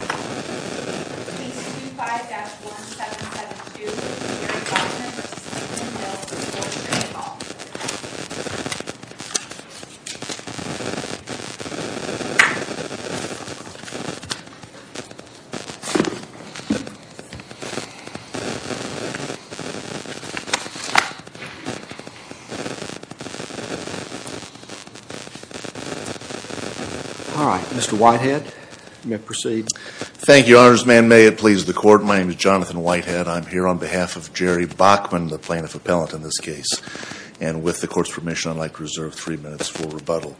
All right, Mr. Whitehead, you may proceed. Thank you, Honors Man. May it please the court, my name is Jonathan Whitehead. I'm here on behalf of Jerry Bachman, the plaintiff appellant in this case. And with the court's permission, I'd like to reserve three minutes for rebuttal.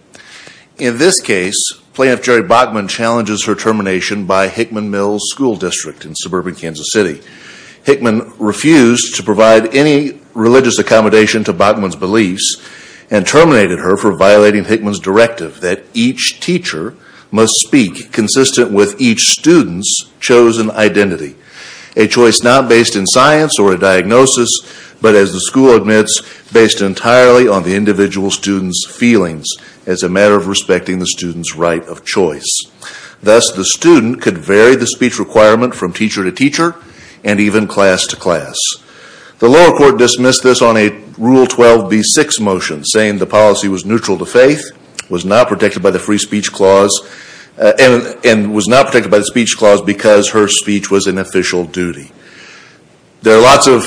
In this case, Plaintiff Jerry Bachman challenges her termination by Hickman Mills School District in suburban Kansas City. Hickman refused to provide any religious accommodation to Bachman's beliefs and terminated her for violating Hickman's directive that each teacher must speak consistent with each student's chosen identity. A choice not based in science or a diagnosis, but as the school admits, based entirely on the individual student's feelings as a matter of respecting the student's right of choice. Thus, the student could vary the speech requirement from teacher to teacher and even class to class. The lower court dismissed this on a Rule 12b-6 motion saying the policy was neutral to faith, was not protected by the free speech clause, and was not protected by the speech clause because her speech was an official duty. There are lots of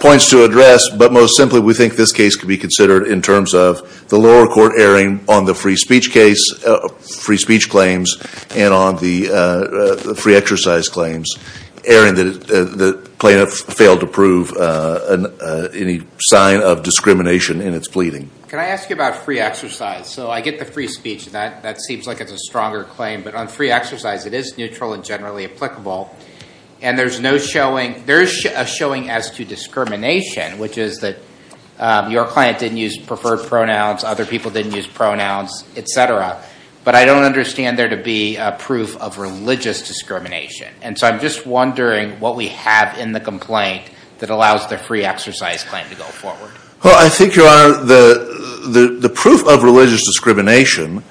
points to address, but most simply we think this case could be considered in terms of the lower court erring on the free speech case, free speech claims, and on the free exercise claims. Erring that the plaintiff failed to prove any sign of discrimination in its pleading. Can I ask you about free exercise? So I get the free speech, that seems like it's a stronger claim. But on free exercise, it is neutral and generally applicable. And there's no showing, there is a showing as to discrimination, which is that your client didn't use preferred pronouns, other people didn't use pronouns, etc. But I don't understand there to be a proof of religious discrimination. And so I'm just wondering what we have in the complaint that allows the free exercise claim to go forward. Well, I think, Your Honor, the proof of religious discrimination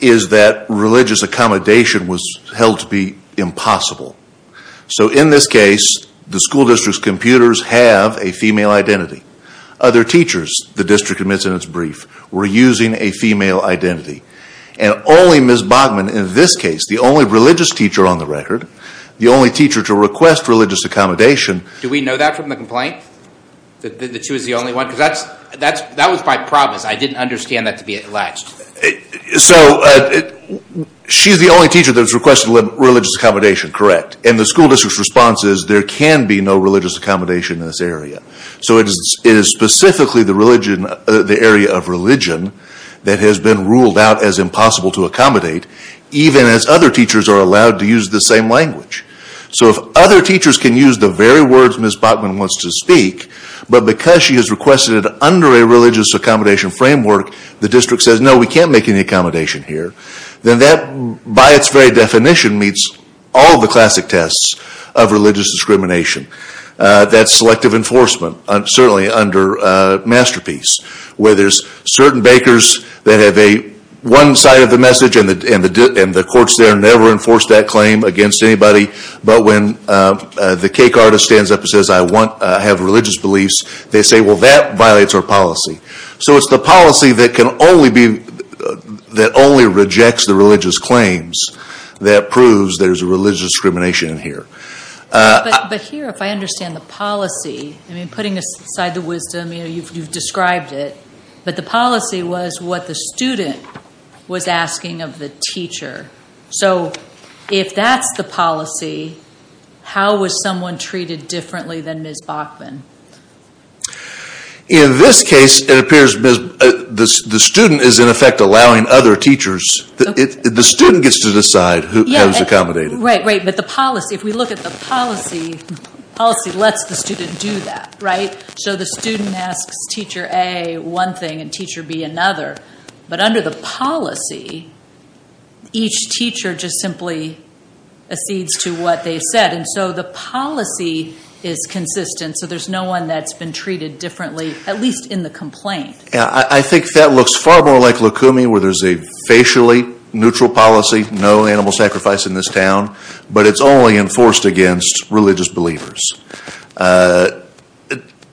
is that religious accommodation was held to be impossible. So in this case, the school district's computers have a female identity. Other teachers, the district admits in its brief, were using a female identity. And only Ms. Bachman, in this case, the only religious teacher on the record, the only teacher to request religious accommodation... Do we know that from the complaint? That she was the only one? Because that was by promise. I didn't understand that to be alleged. So she's the only teacher that was requested religious accommodation, correct. And the school district's response is there can be no religious accommodation in this area. So it is specifically the area of religion that has been ruled out as impossible to accommodate, even as other teachers are allowed to use the same language. So if other teachers can use the very words Ms. Bachman wants to speak, but because she has requested it under a religious accommodation framework, the district says, no, we can't make any accommodation here, then that, by its very definition, meets all the classic tests of religious discrimination. That's selective enforcement, certainly under Masterpiece, where there's certain bakers that have one side of the message and the courts there never enforce that claim against anybody. But when the cake artist stands up and says, I have religious beliefs, they say, well, that violates our policy. So it's the policy that only rejects the religious claims that proves there's a religious discrimination in here. But here, if I understand the policy, I mean, putting aside the wisdom, you've described it, but the policy was what the student was asking of the teacher. So if that's the policy, how was someone treated differently than Ms. Bachman? In this case, it appears the student is, in effect, allowing other teachers. The student gets to decide who is accommodated. Right, right. But the policy, if we look at the policy, policy lets the student do that, right? So the student asks Teacher A one thing and Teacher B another. But under the policy, each teacher just simply accedes to what they said. And so the policy is consistent, so there's no one that's been treated differently, at least in the complaint. I think that looks far more like Lukumi, where there's a facially neutral policy, no animal sacrifice in this town, but it's only enforced against religious believers.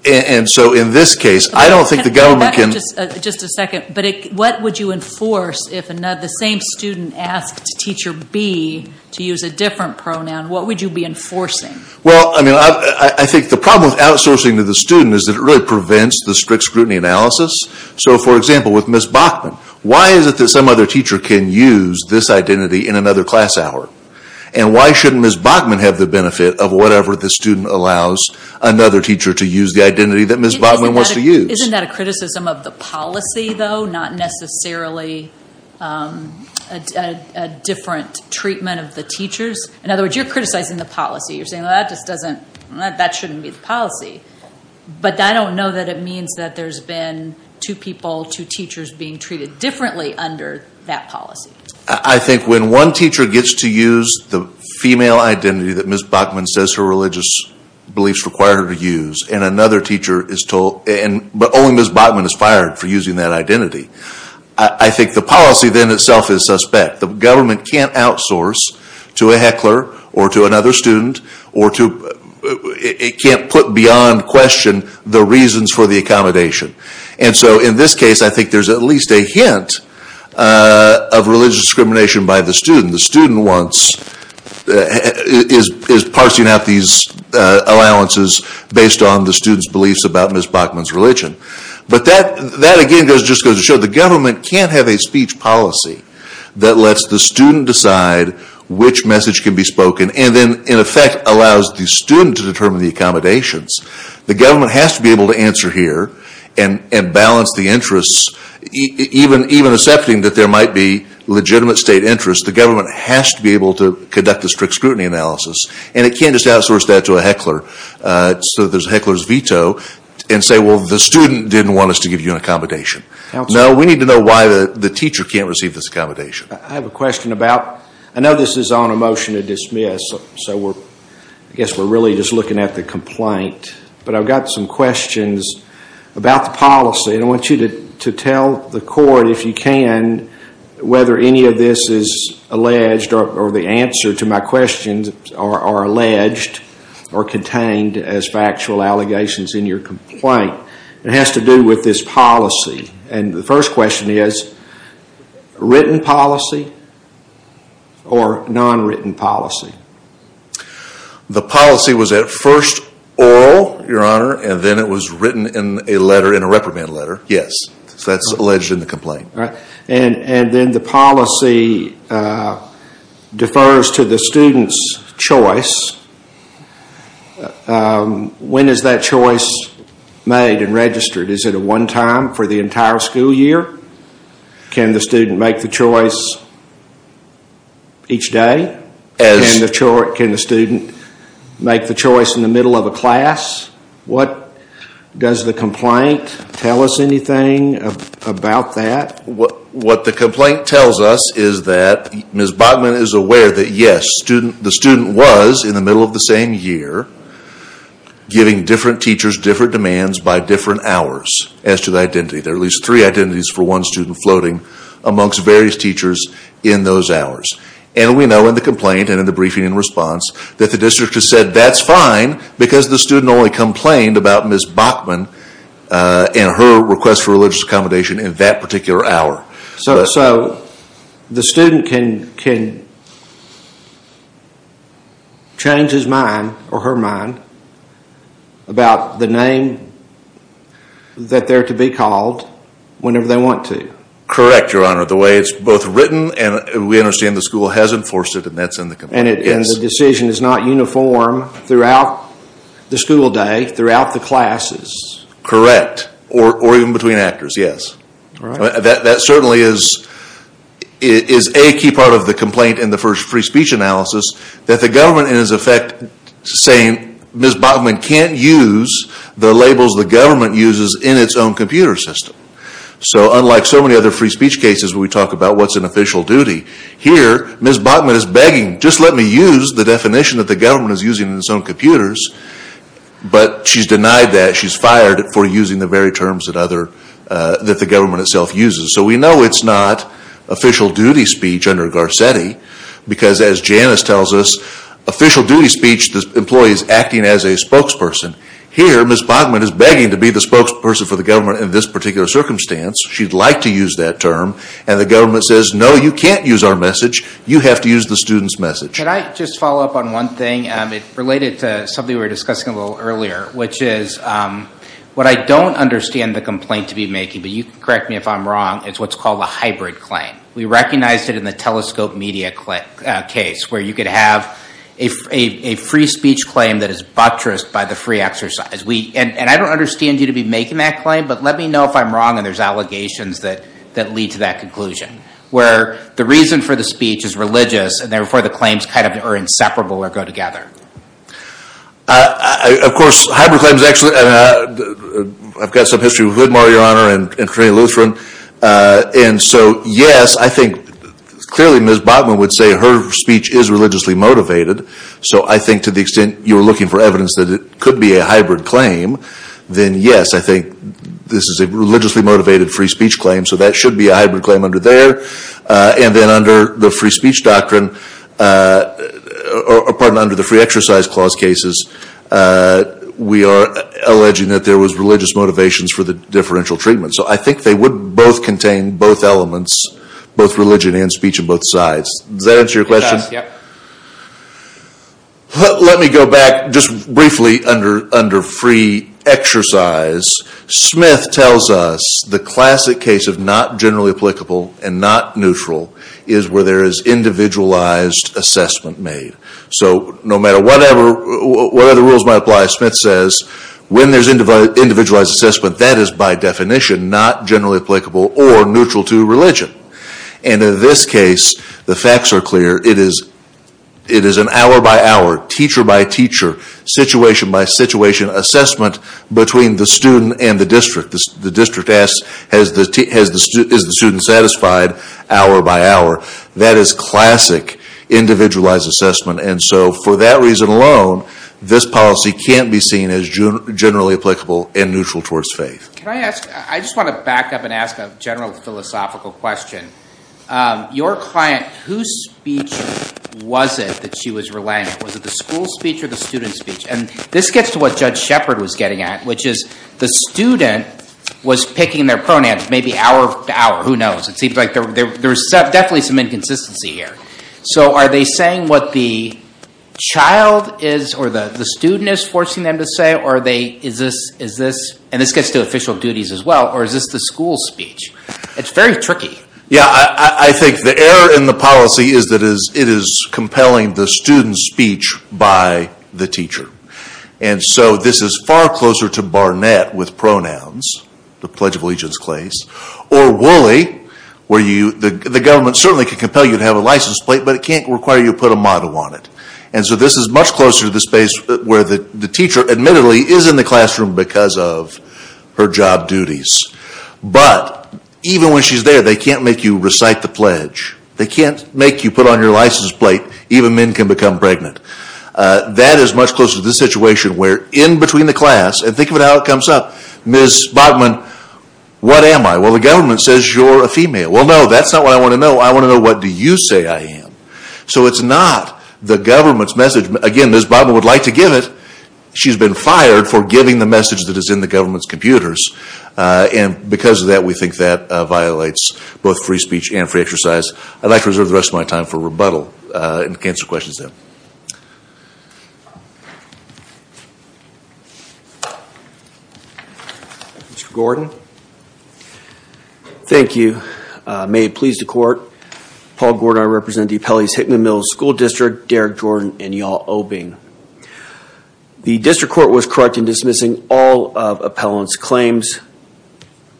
And so in this case, I don't think the government can... Just a second, but what would you enforce if the same student asked Teacher B to use a different pronoun? What would you be enforcing? Well, I mean, I think the problem with outsourcing to the student is that it really prevents the strict scrutiny analysis. So for example, with Ms. Bachman, why is it that some other teacher can use this identity in another class hour? And why shouldn't Ms. Bachman have the benefit of whatever the student allows another teacher to use the identity that Ms. Bachman wants to use? Isn't that a criticism of the policy, though? Not necessarily a different treatment of the teachers? In other words, you're criticizing the policy. You're saying, well, that just doesn't... That shouldn't be the policy. But I don't know that it means that there's been two people, two teachers being treated differently under that policy. I think when one teacher gets to use the female identity that Ms. Bachman says her religious beliefs require her to use, and another teacher is told... But only Ms. Bachman is fired for using that identity. I think the policy then itself is suspect. The government can't outsource to a heckler or to another student or to... It can't put beyond question the reasons for the accommodation. And so in this case, I think there's at least a hint of religious discrimination by the student. The student is parsing out these allowances based on the student's beliefs about Ms. Bachman's religion. But that, again, just goes to show the government can't have a speech policy that lets the student decide which message can be spoken and then, in effect, allows the student to determine the accommodations. The government has to be able to answer here and balance the interests, even accepting that there might be legitimate state interest. The government has to be able to conduct a strict scrutiny analysis. And it can't just outsource that to a heckler so that there's a heckler's veto and say, well, the student didn't want us to give you an accommodation. No, we need to know why the teacher can't receive this accommodation. I have a question about... I know this is on a motion to dismiss. So I guess we're really just looking at the complaint. But I've got some questions about the policy. And I want you to tell the court, if you can, whether any of this is alleged or the answer to my questions are alleged or contained as factual allegations in your complaint. It has to do with this policy. And the first question is, written policy or non-written policy? The policy was at first oral, Your Honor, and then it was written in a letter, in a reprimand letter, yes. So that's alleged in the complaint. And then the policy defers to the student's choice. When is that choice made and registered? Is it a one time for the entire school year? Can the student make the choice each day? Can the student make the choice in the middle of a class? What does the complaint tell us anything about that? What the complaint tells us is that Ms. Bachman is aware that, yes, the student was in the middle of the same year giving different teachers different demands by different hours as to the identity. There are at least three identities for one student floating amongst various teachers in those hours. And we know in the complaint and in the briefing and response that the district has said that's fine because the student only complained about Ms. Bachman and her request for religious accommodation in that particular hour. So the student can change his mind or her mind about the name that they're to be called whenever they want to? Correct, Your Honor. The way it's both written and we understand the school has enforced it and that's in the complaint. And the decision is not uniform throughout the school day, throughout the classes? Correct. Or even between actors, yes. That certainly is a key part of the complaint in the first free speech analysis that the government in its effect saying Ms. Bachman can't use the labels the government uses in its own computer system. So unlike so many other free speech cases where we talk about what's an official duty, here Ms. Bachman is begging just let me use the definition that the government is using in its own computers. But she's denied that. She's fired for using the very terms that the government itself uses. So we know it's not official duty speech under Garcetti because as Janice tells us, official duty speech is employees acting as a spokesperson. Here Ms. Bachman is begging to be the spokesperson for the government in this particular circumstance. She'd like to use that term and the government says no, you can't use our message. You have to use the student's message. Can I just follow up on one thing related to something we were discussing a little earlier, which is what I don't understand the complaint to be making, but you can correct me if I'm wrong, it's what's called a hybrid claim. We recognized it in the telescope media case where you could have a free speech claim that is buttressed by the free exercise. And I don't understand you to be making that claim, but let me know if I'm wrong and there's allegations that lead to that conclusion. Where the reason for the speech is religious and therefore the claims are inseparable or go together. Of course, hybrid claims actually, I've got some history with Woodmore, Your Honor, and Trina Lutheran. And so yes, I think clearly Ms. Bachman would say her speech is religiously motivated. So I think to the extent you're looking for evidence that it could be a hybrid claim, then yes, I think this is a religiously motivated free speech claim. So that should be a hybrid claim under there. And then under the free exercise clause cases, we are alleging that there was religious motivations for the differential treatment. So I think they would both contain both elements, both religion and speech on both sides. Does that answer your question? Let me go back just briefly under free exercise. Smith tells us the classic case of not generally applicable and not neutral is where there is individualized assessment made. So no matter what other rules might apply, Smith says when there's individualized assessment, that is by definition not generally applicable or neutral to religion. And in this case, the facts are clear. It is an hour by hour, teacher by teacher, situation by situation, assessment between the student and the district. The district asks, is the student satisfied hour by hour? That is classic individualized assessment. And so for that reason alone, this policy can't be seen as generally applicable and neutral towards faith. Can I ask, I just want to back up and ask a general philosophical question. Your client, whose speech was it that she was relaying? Was it the school speech or the student speech? And this gets to what Judge Shepard was getting at, which is the student was picking their pronouns maybe hour to hour. Who knows? It seems like there was definitely some inconsistency here. So are they saying what the child is or the student is forcing them to say? And this gets to official duties as well. Or is this the school speech? It's very tricky. Yeah, I think the error in the policy is that it is compelling the student's speech by the teacher. And so this is far closer to Barnett with pronouns, the Pledge of Allegiance clays, or Woolley, where the government certainly can compel you to have a license plate, but it can't require you to put a motto on it. And so this is much closer to the space where the teacher admittedly is in the classroom because of her job duties. But even when she's there, they can't make you recite the pledge. They can't make you put on your license plate, even men can become pregnant. That is much closer to the situation where in between the class, and think about how it comes up. Ms. Bodman, what am I? Well, the government says you're a female. Well, no, that's not what I want to know. I want to know what do you say I am. So it's not the government's message. Again, Ms. Bodman would like to give it. She's been fired for giving the message that is in the government's computers. And because of that, we think that violates both free speech and free exercise. I'd like to reserve the rest of my time for rebuttal and answer questions there. Mr. Gordon. Thank you. May it please the Court, Paul Gordon, I represent the Appellees Hickman Middle School District, Derek Jordan, and Yaw Obing. The District Court was correct in dismissing all of Appellant's claims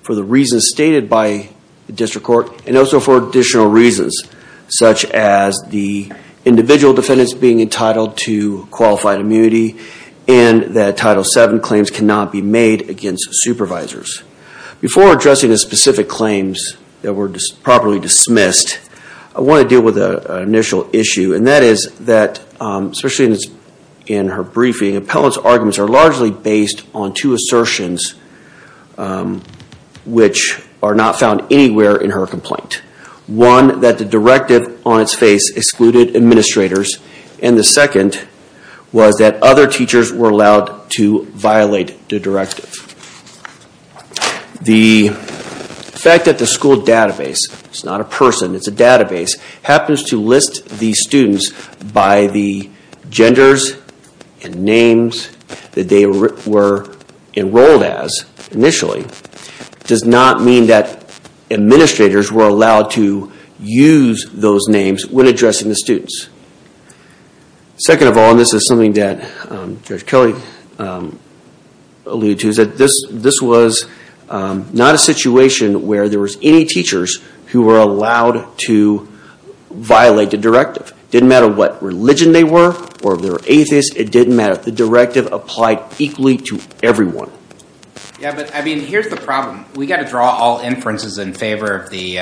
for the reasons stated by the District Court and also for additional reasons, such as the individual defendants being entitled to qualified immunity and that Title VII claims cannot be made against supervisors. Before addressing the specific claims that were properly dismissed, I want to deal with an initial issue, and that is that, especially in her briefing, Appellant's arguments are largely based on two assertions which are not found anywhere in her complaint. One, that the directive on its face excluded administrators, and the second was that other teachers were allowed to violate the directive. The fact that the school database, it's not a person, it's a database, happens to list these students by the genders and names that they were enrolled as initially, does not mean that administrators were allowed to use those names when addressing the students. Second of all, and this is something that Judge Kelly alluded to, is that this was not a situation where there was any teachers who were allowed to violate the directive. It didn't matter what religion they were or if they were atheist, it didn't matter. The directive applied equally to everyone. Yeah, but here's the problem. We've got to draw all inferences in favor of the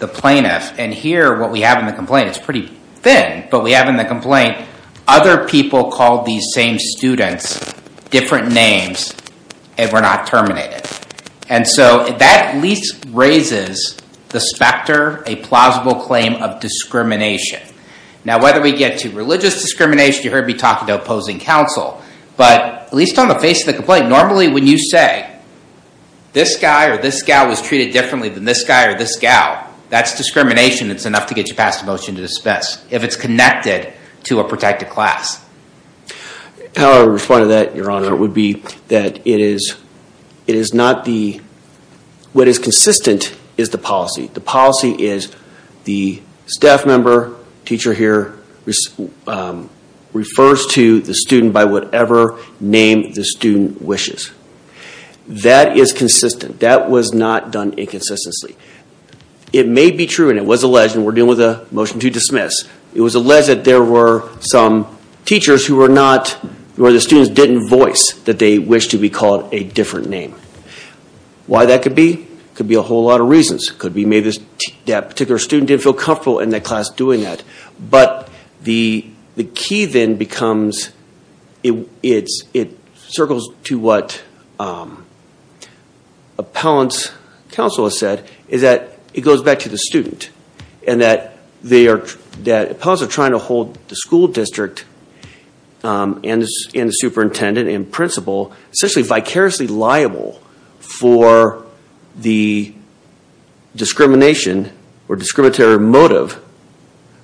plaintiff, and here what we have in the complaint, it's pretty thin, but we have in the complaint other people called these same students different names and were not terminated. And so that at least raises the specter, a plausible claim of discrimination. Now whether we get to religious discrimination, you heard me talking to opposing counsel, but at least on the face of the complaint, normally when you say this guy or this gal was treated differently than this guy or this gal, that's discrimination. It's enough to get you passed a motion to dismiss if it's connected to a protected class. How I would respond to that, Your Honor, would be that what is consistent is the policy. The policy is the staff member, teacher here, refers to the student by whatever name the student wishes. That is consistent. That was not done inconsistently. It may be true and it was alleged, and we're dealing with a motion to dismiss, it was alleged that there were some teachers who were not, where the students didn't voice that they wished to be called a different name. Why that could be? Could be a whole lot of reasons. Could be that particular student didn't feel comfortable in that class doing that. But the key then becomes, it circles to what appellant's counsel has said, is that it goes back to the student and that appellants are trying to hold the school district and the superintendent and principal essentially vicariously liable for the discrimination or discriminatory motive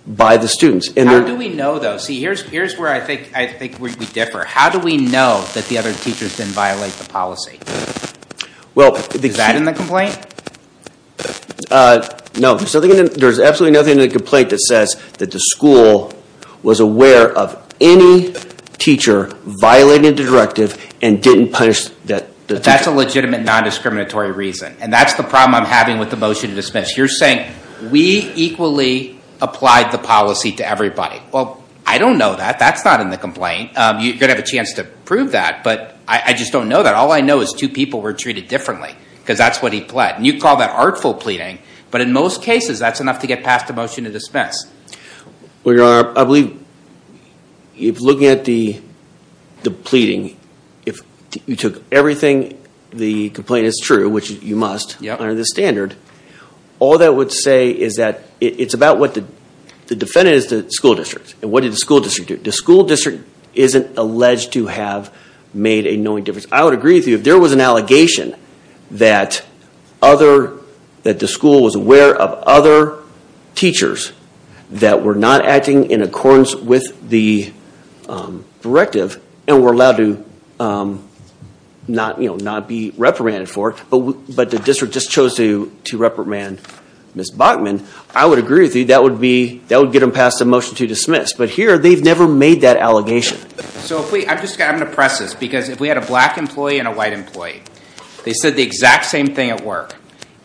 by the students. How do we know though? See, here's where I think we differ. How do we know that the other teachers didn't violate the policy? Is that in the complaint? No. There's absolutely nothing in the complaint that says that the school was aware of any teacher violating the directive and didn't punish that teacher. That's a legitimate non-discriminatory reason. And that's the problem I'm having with the motion to dismiss. You're saying we equally applied the policy to everybody. Well, I don't know that. That's not in the complaint. You're going to have a chance to prove that, but I just don't know that. All I know is two people were treated differently because that's what he pled. And you call that artful pleading, but in most cases that's enough to get past the motion to dismiss. Well, Your Honor, I believe if looking at the pleading, if you took everything the complaint is true, which you must under this standard, all that would say is that it's about what the defendant is to the school district. And what did the school district do? The school district isn't alleged to have made a knowing difference. I would agree with you. If there was an allegation that the school was aware of other teachers that were not acting in accordance with the directive and were allowed to not be reprimanded for it, but the district just chose to reprimand Ms. Bachman, I would agree with you that would get them past the motion to dismiss. But here they've never made that allegation. I'm just going to press this, because if we had a black employee and a white employee, they said the exact same thing at work,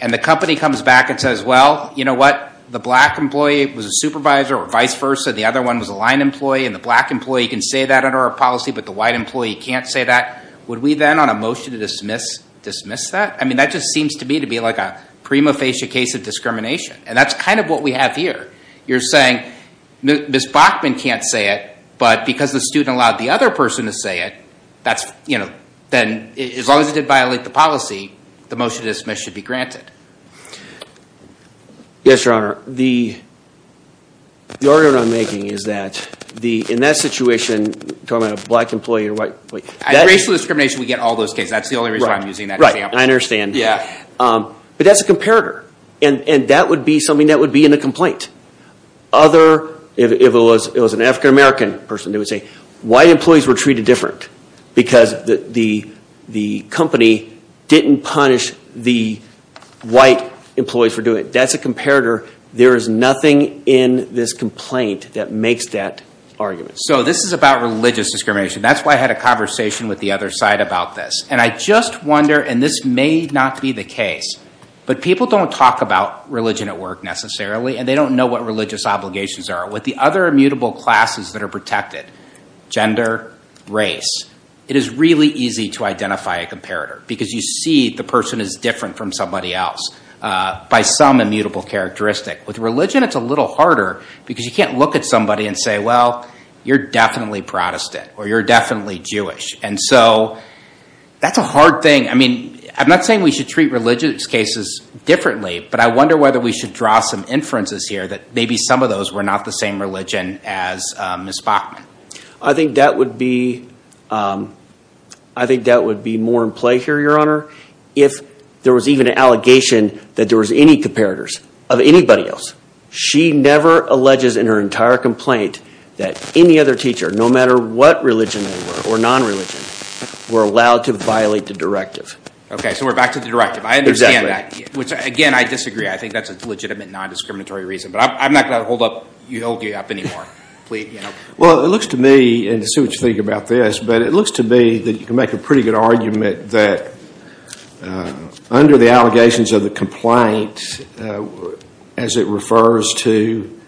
and the company comes back and says, well, you know what, the black employee was a supervisor or vice versa, the other one was a line employee, and the black employee can say that under our policy, but the white employee can't say that, would we then on a motion to dismiss dismiss that? I mean, that just seems to me to be like a prima facie case of discrimination. And that's kind of what we have here. You're saying Ms. Bachman can't say it, but because the student allowed the other person to say it, then as long as it did violate the policy, the motion to dismiss should be granted. Yes, Your Honor. The argument I'm making is that in that situation, talking about a black employee or white employee, At racial discrimination, we get all those cases. That's the only reason I'm using that example. Right, I understand. Yeah. But that's a comparator, and that would be something that would be in a complaint. If it was an African American person, they would say white employees were treated different because the company didn't punish the white employees for doing it. That's a comparator. There is nothing in this complaint that makes that argument. So this is about religious discrimination. That's why I had a conversation with the other side about this. And I just wonder, and this may not be the case, but people don't talk about religion at work necessarily, and they don't know what religious obligations are. With the other immutable classes that are protected, gender, race, it is really easy to identify a comparator because you see the person is different from somebody else by some immutable characteristic. With religion, it's a little harder because you can't look at somebody and say, well, you're definitely Protestant, or you're definitely Jewish. And so that's a hard thing. I mean, I'm not saying we should treat religious cases differently, but I wonder whether we should draw some inferences here that maybe some of those were not the same religion as Ms. Bachman. I think that would be more in play here, Your Honor, if there was even an allegation that there was any comparators of anybody else. She never alleges in her entire complaint that any other teacher, no matter what religion they were, or non-religion, were allowed to violate the directive. Okay, so we're back to the directive. Exactly. Which, again, I disagree. I think that's a legitimate non-discriminatory reason. But I'm not going to hold you up anymore. Well, it looks to me, and let's see what you think about this, but it looks to me that you can make a pretty good argument that under the allegations of the complaint, as it refers to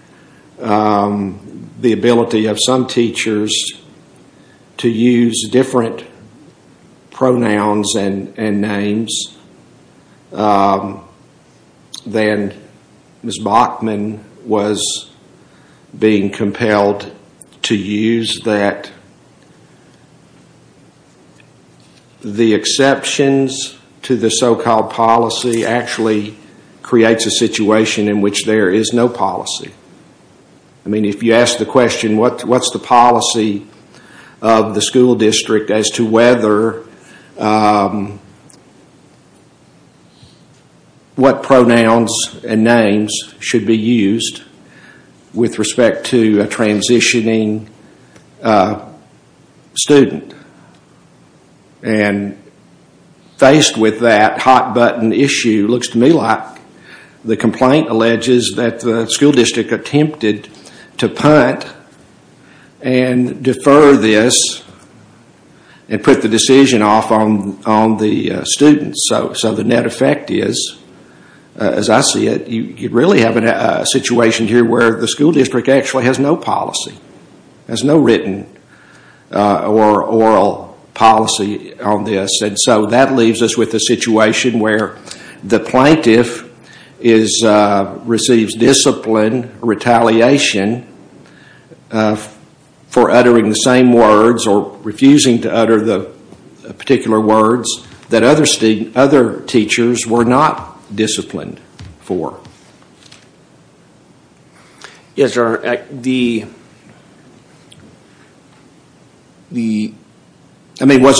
the ability of some teachers to use different pronouns and names, then Ms. Bachman was being compelled to use that. The exceptions to the so-called policy actually creates a situation in which there is no policy. I mean, if you ask the question, what's the policy of the school district as to what pronouns and names should be used with respect to a transitioning student? And faced with that hot-button issue, it looks to me like the complaint alleges that the school district attempted to punt and defer this and put the decision off on the students. So the net effect is, as I see it, you really have a situation here where the school district actually has no policy, has no written or oral policy on this. So that leaves us with a situation where the plaintiff receives discipline, retaliation for uttering the same words or refusing to utter the particular words that other teachers were not disciplined for. Was it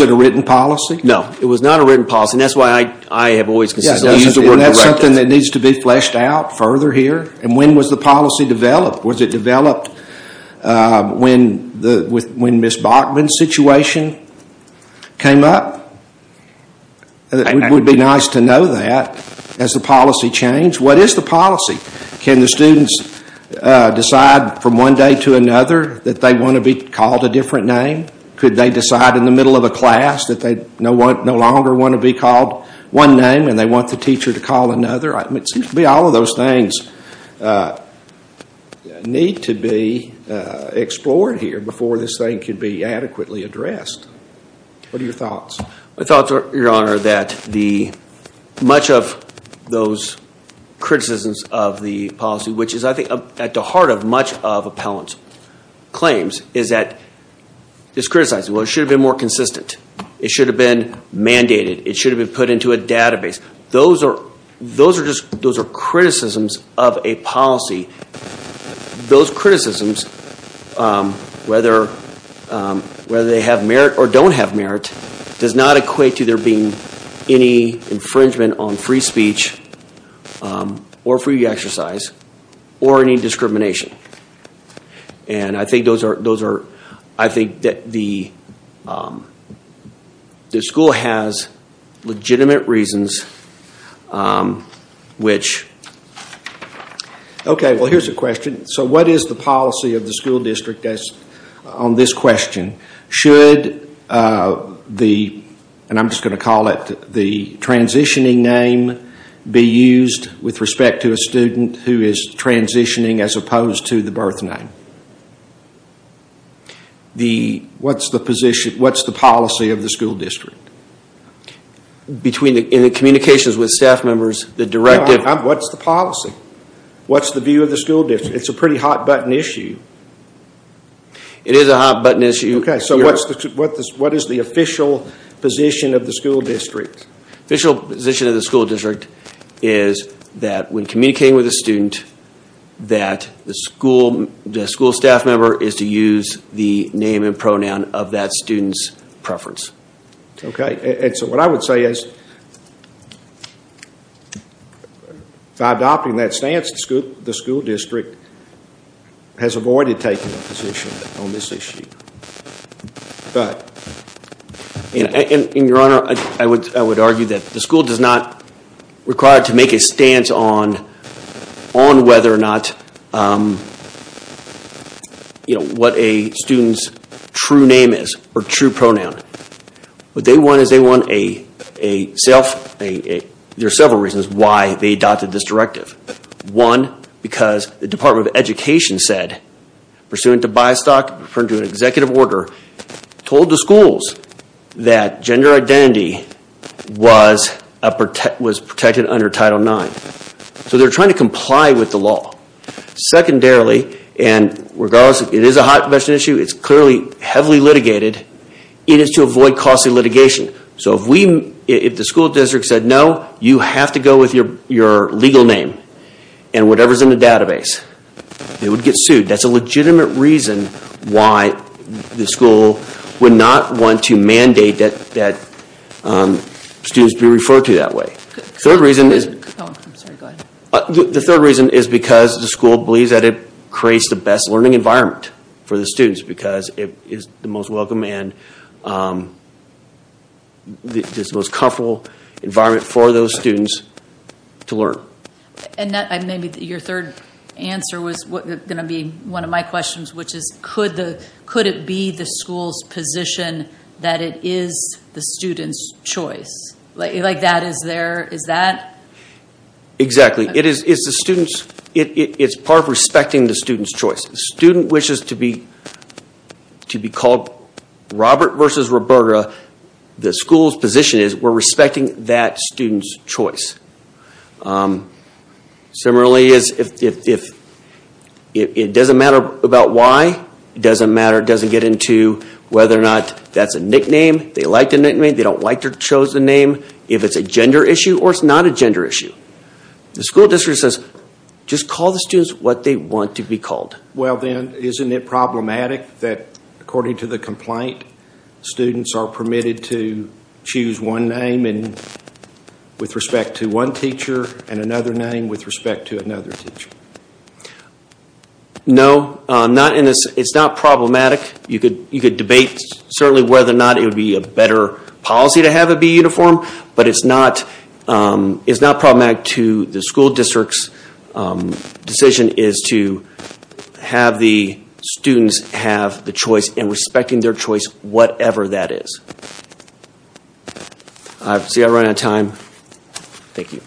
a written policy? No, it was not a written policy. That's why I have always consistently used the word corrective. That's something that needs to be fleshed out further here. And when was the policy developed? Was it developed when Ms. Bachman's situation came up? It would be nice to know that as the policy changed. What is the policy? Can the students decide from one day to another that they want to be called a different name? Could they decide in the middle of a class that they no longer want to be called one name and they want the teacher to call another? It seems to me all of those things need to be explored here before this thing can be adequately addressed. What are your thoughts? My thoughts are, Your Honor, that much of those criticisms of the policy, which is, I think, at the heart of much of appellant's claims, is that it's criticized. Well, it should have been more consistent. It should have been mandated. It should have been put into a database. Those are criticisms of a policy. Those criticisms, whether they have merit or don't have merit, does not equate to there being any infringement on free speech or free exercise or any discrimination. I think that the school has legitimate reasons which... Okay, well, here's a question. What is the policy of the school district on this question? Should the, and I'm just going to call it, the transitioning name be used with respect to a student who is transitioning as opposed to the birth name? What's the policy of the school district? In the communications with staff members, the directive... What's the policy? What's the view of the school district? It's a pretty hot-button issue. It is a hot-button issue. Okay, so what is the official position of the school district? The official position of the school district is that when communicating with a student, that the school staff member is to use the name and pronoun of that student's preference. Okay, and so what I would say is, by adopting that stance, the school district has avoided taking a position on this issue. But... And, Your Honor, I would argue that the school does not require to make a stance on whether or not what a student's true name is or true pronoun. What they want is they want a self... There are several reasons why they adopted this directive. One, because the Department of Education said, pursuant to by-stock, pursuant to an executive order, told the schools that gender identity was protected under Title IX. So they're trying to comply with the law. Secondarily, and regardless, it is a hot-button issue. It's clearly heavily litigated. It is to avoid costly litigation. So if the school district said, no, you have to go with your legal name, and whatever's in the database, they would get sued. That's a legitimate reason why the school would not want to mandate that students be referred to that way. Third reason is... Oh, I'm sorry, go ahead. The third reason is because the school believes that it creates the best learning environment for the students because it is the most welcome and it's the most comfortable environment for those students to learn. Maybe your third answer was going to be one of my questions, which is, could it be the school's position that it is the student's choice? Like, that is their... Is that... Exactly. It is the student's... It's part of respecting the student's choice. If a student wishes to be called Robert versus Roberta, the school's position is, we're respecting that student's choice. Similarly, it doesn't matter about why. It doesn't matter. It doesn't get into whether or not that's a nickname. They like the nickname. They don't like their chosen name. If it's a gender issue or it's not a gender issue. The school district says, just call the students what they want to be called. Well then, isn't it problematic that, according to the complaint, students are permitted to choose one name with respect to one teacher and another name with respect to another teacher? No. It's not problematic. You could debate, certainly, whether or not it would be a better policy to have it be uniform, but it's not problematic to the school district's decision is to have the students have the choice and respecting their choice, whatever that is. I see I've run out of time. Thank you.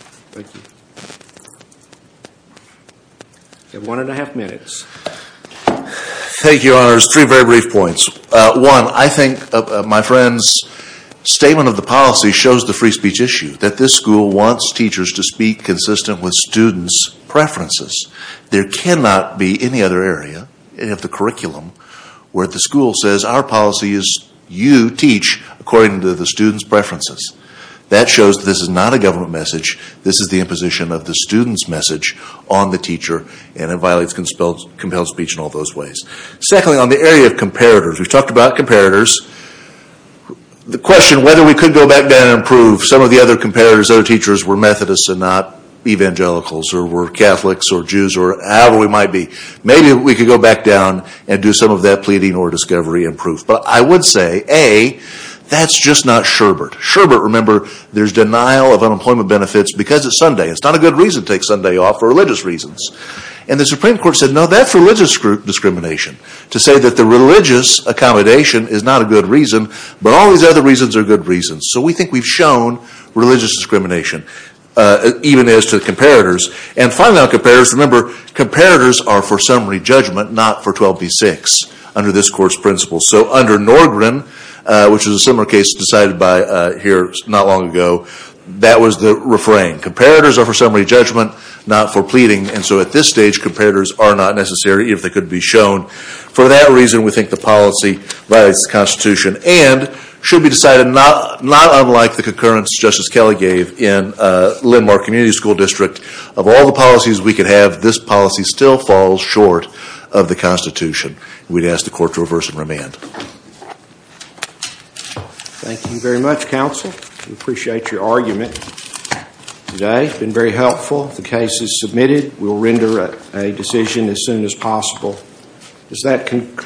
You have one and a half minutes. Thank you, Your Honors. Three very brief points. One, I think my friend's statement of the policy shows the free speech issue, that this school wants teachers to speak consistent with students' preferences. There cannot be any other area, any of the curriculum, where the school says our policy is you teach according to the students' preferences. That shows that this is not a government message. This is the imposition of the students' message on the teacher and it violates compelled speech in all those ways. Secondly, on the area of comparators, we've talked about comparators. The question whether we could go back down and prove some of the other comparators, other teachers, were Methodists and not Evangelicals or were Catholics or Jews or however we might be. Maybe we could go back down and do some of that pleading or discovery and proof. But I would say, A, that's just not Sherbert. Sherbert, remember, there's denial of unemployment benefits because it's Sunday. It's not a good reason to take Sunday off for religious reasons. And the Supreme Court said, no, that's religious discrimination to say that the religious accommodation is not a good reason, but all these other reasons are good reasons. So we think we've shown religious discrimination, even as to the comparators. And finally on comparators, remember, comparators are for summary judgment, not for 12B6 under this Court's principles. So under Norgren, which is a similar case decided by here not long ago, that was the refrain. Comparators are for summary judgment, not for pleading. And so at this stage, comparators are not necessary if they could be shown. For that reason, we think the policy violates the Constitution and should be decided not unlike the concurrence Justice Kelley gave in Lindmar Community School District. Of all the policies we could have, this policy still falls short of the Constitution. We'd ask the Court to reverse and remand. Thank you very much, Counsel. We appreciate your argument today. It's been very helpful. The case is submitted. We'll render a decision as soon as possible. Does that conclude?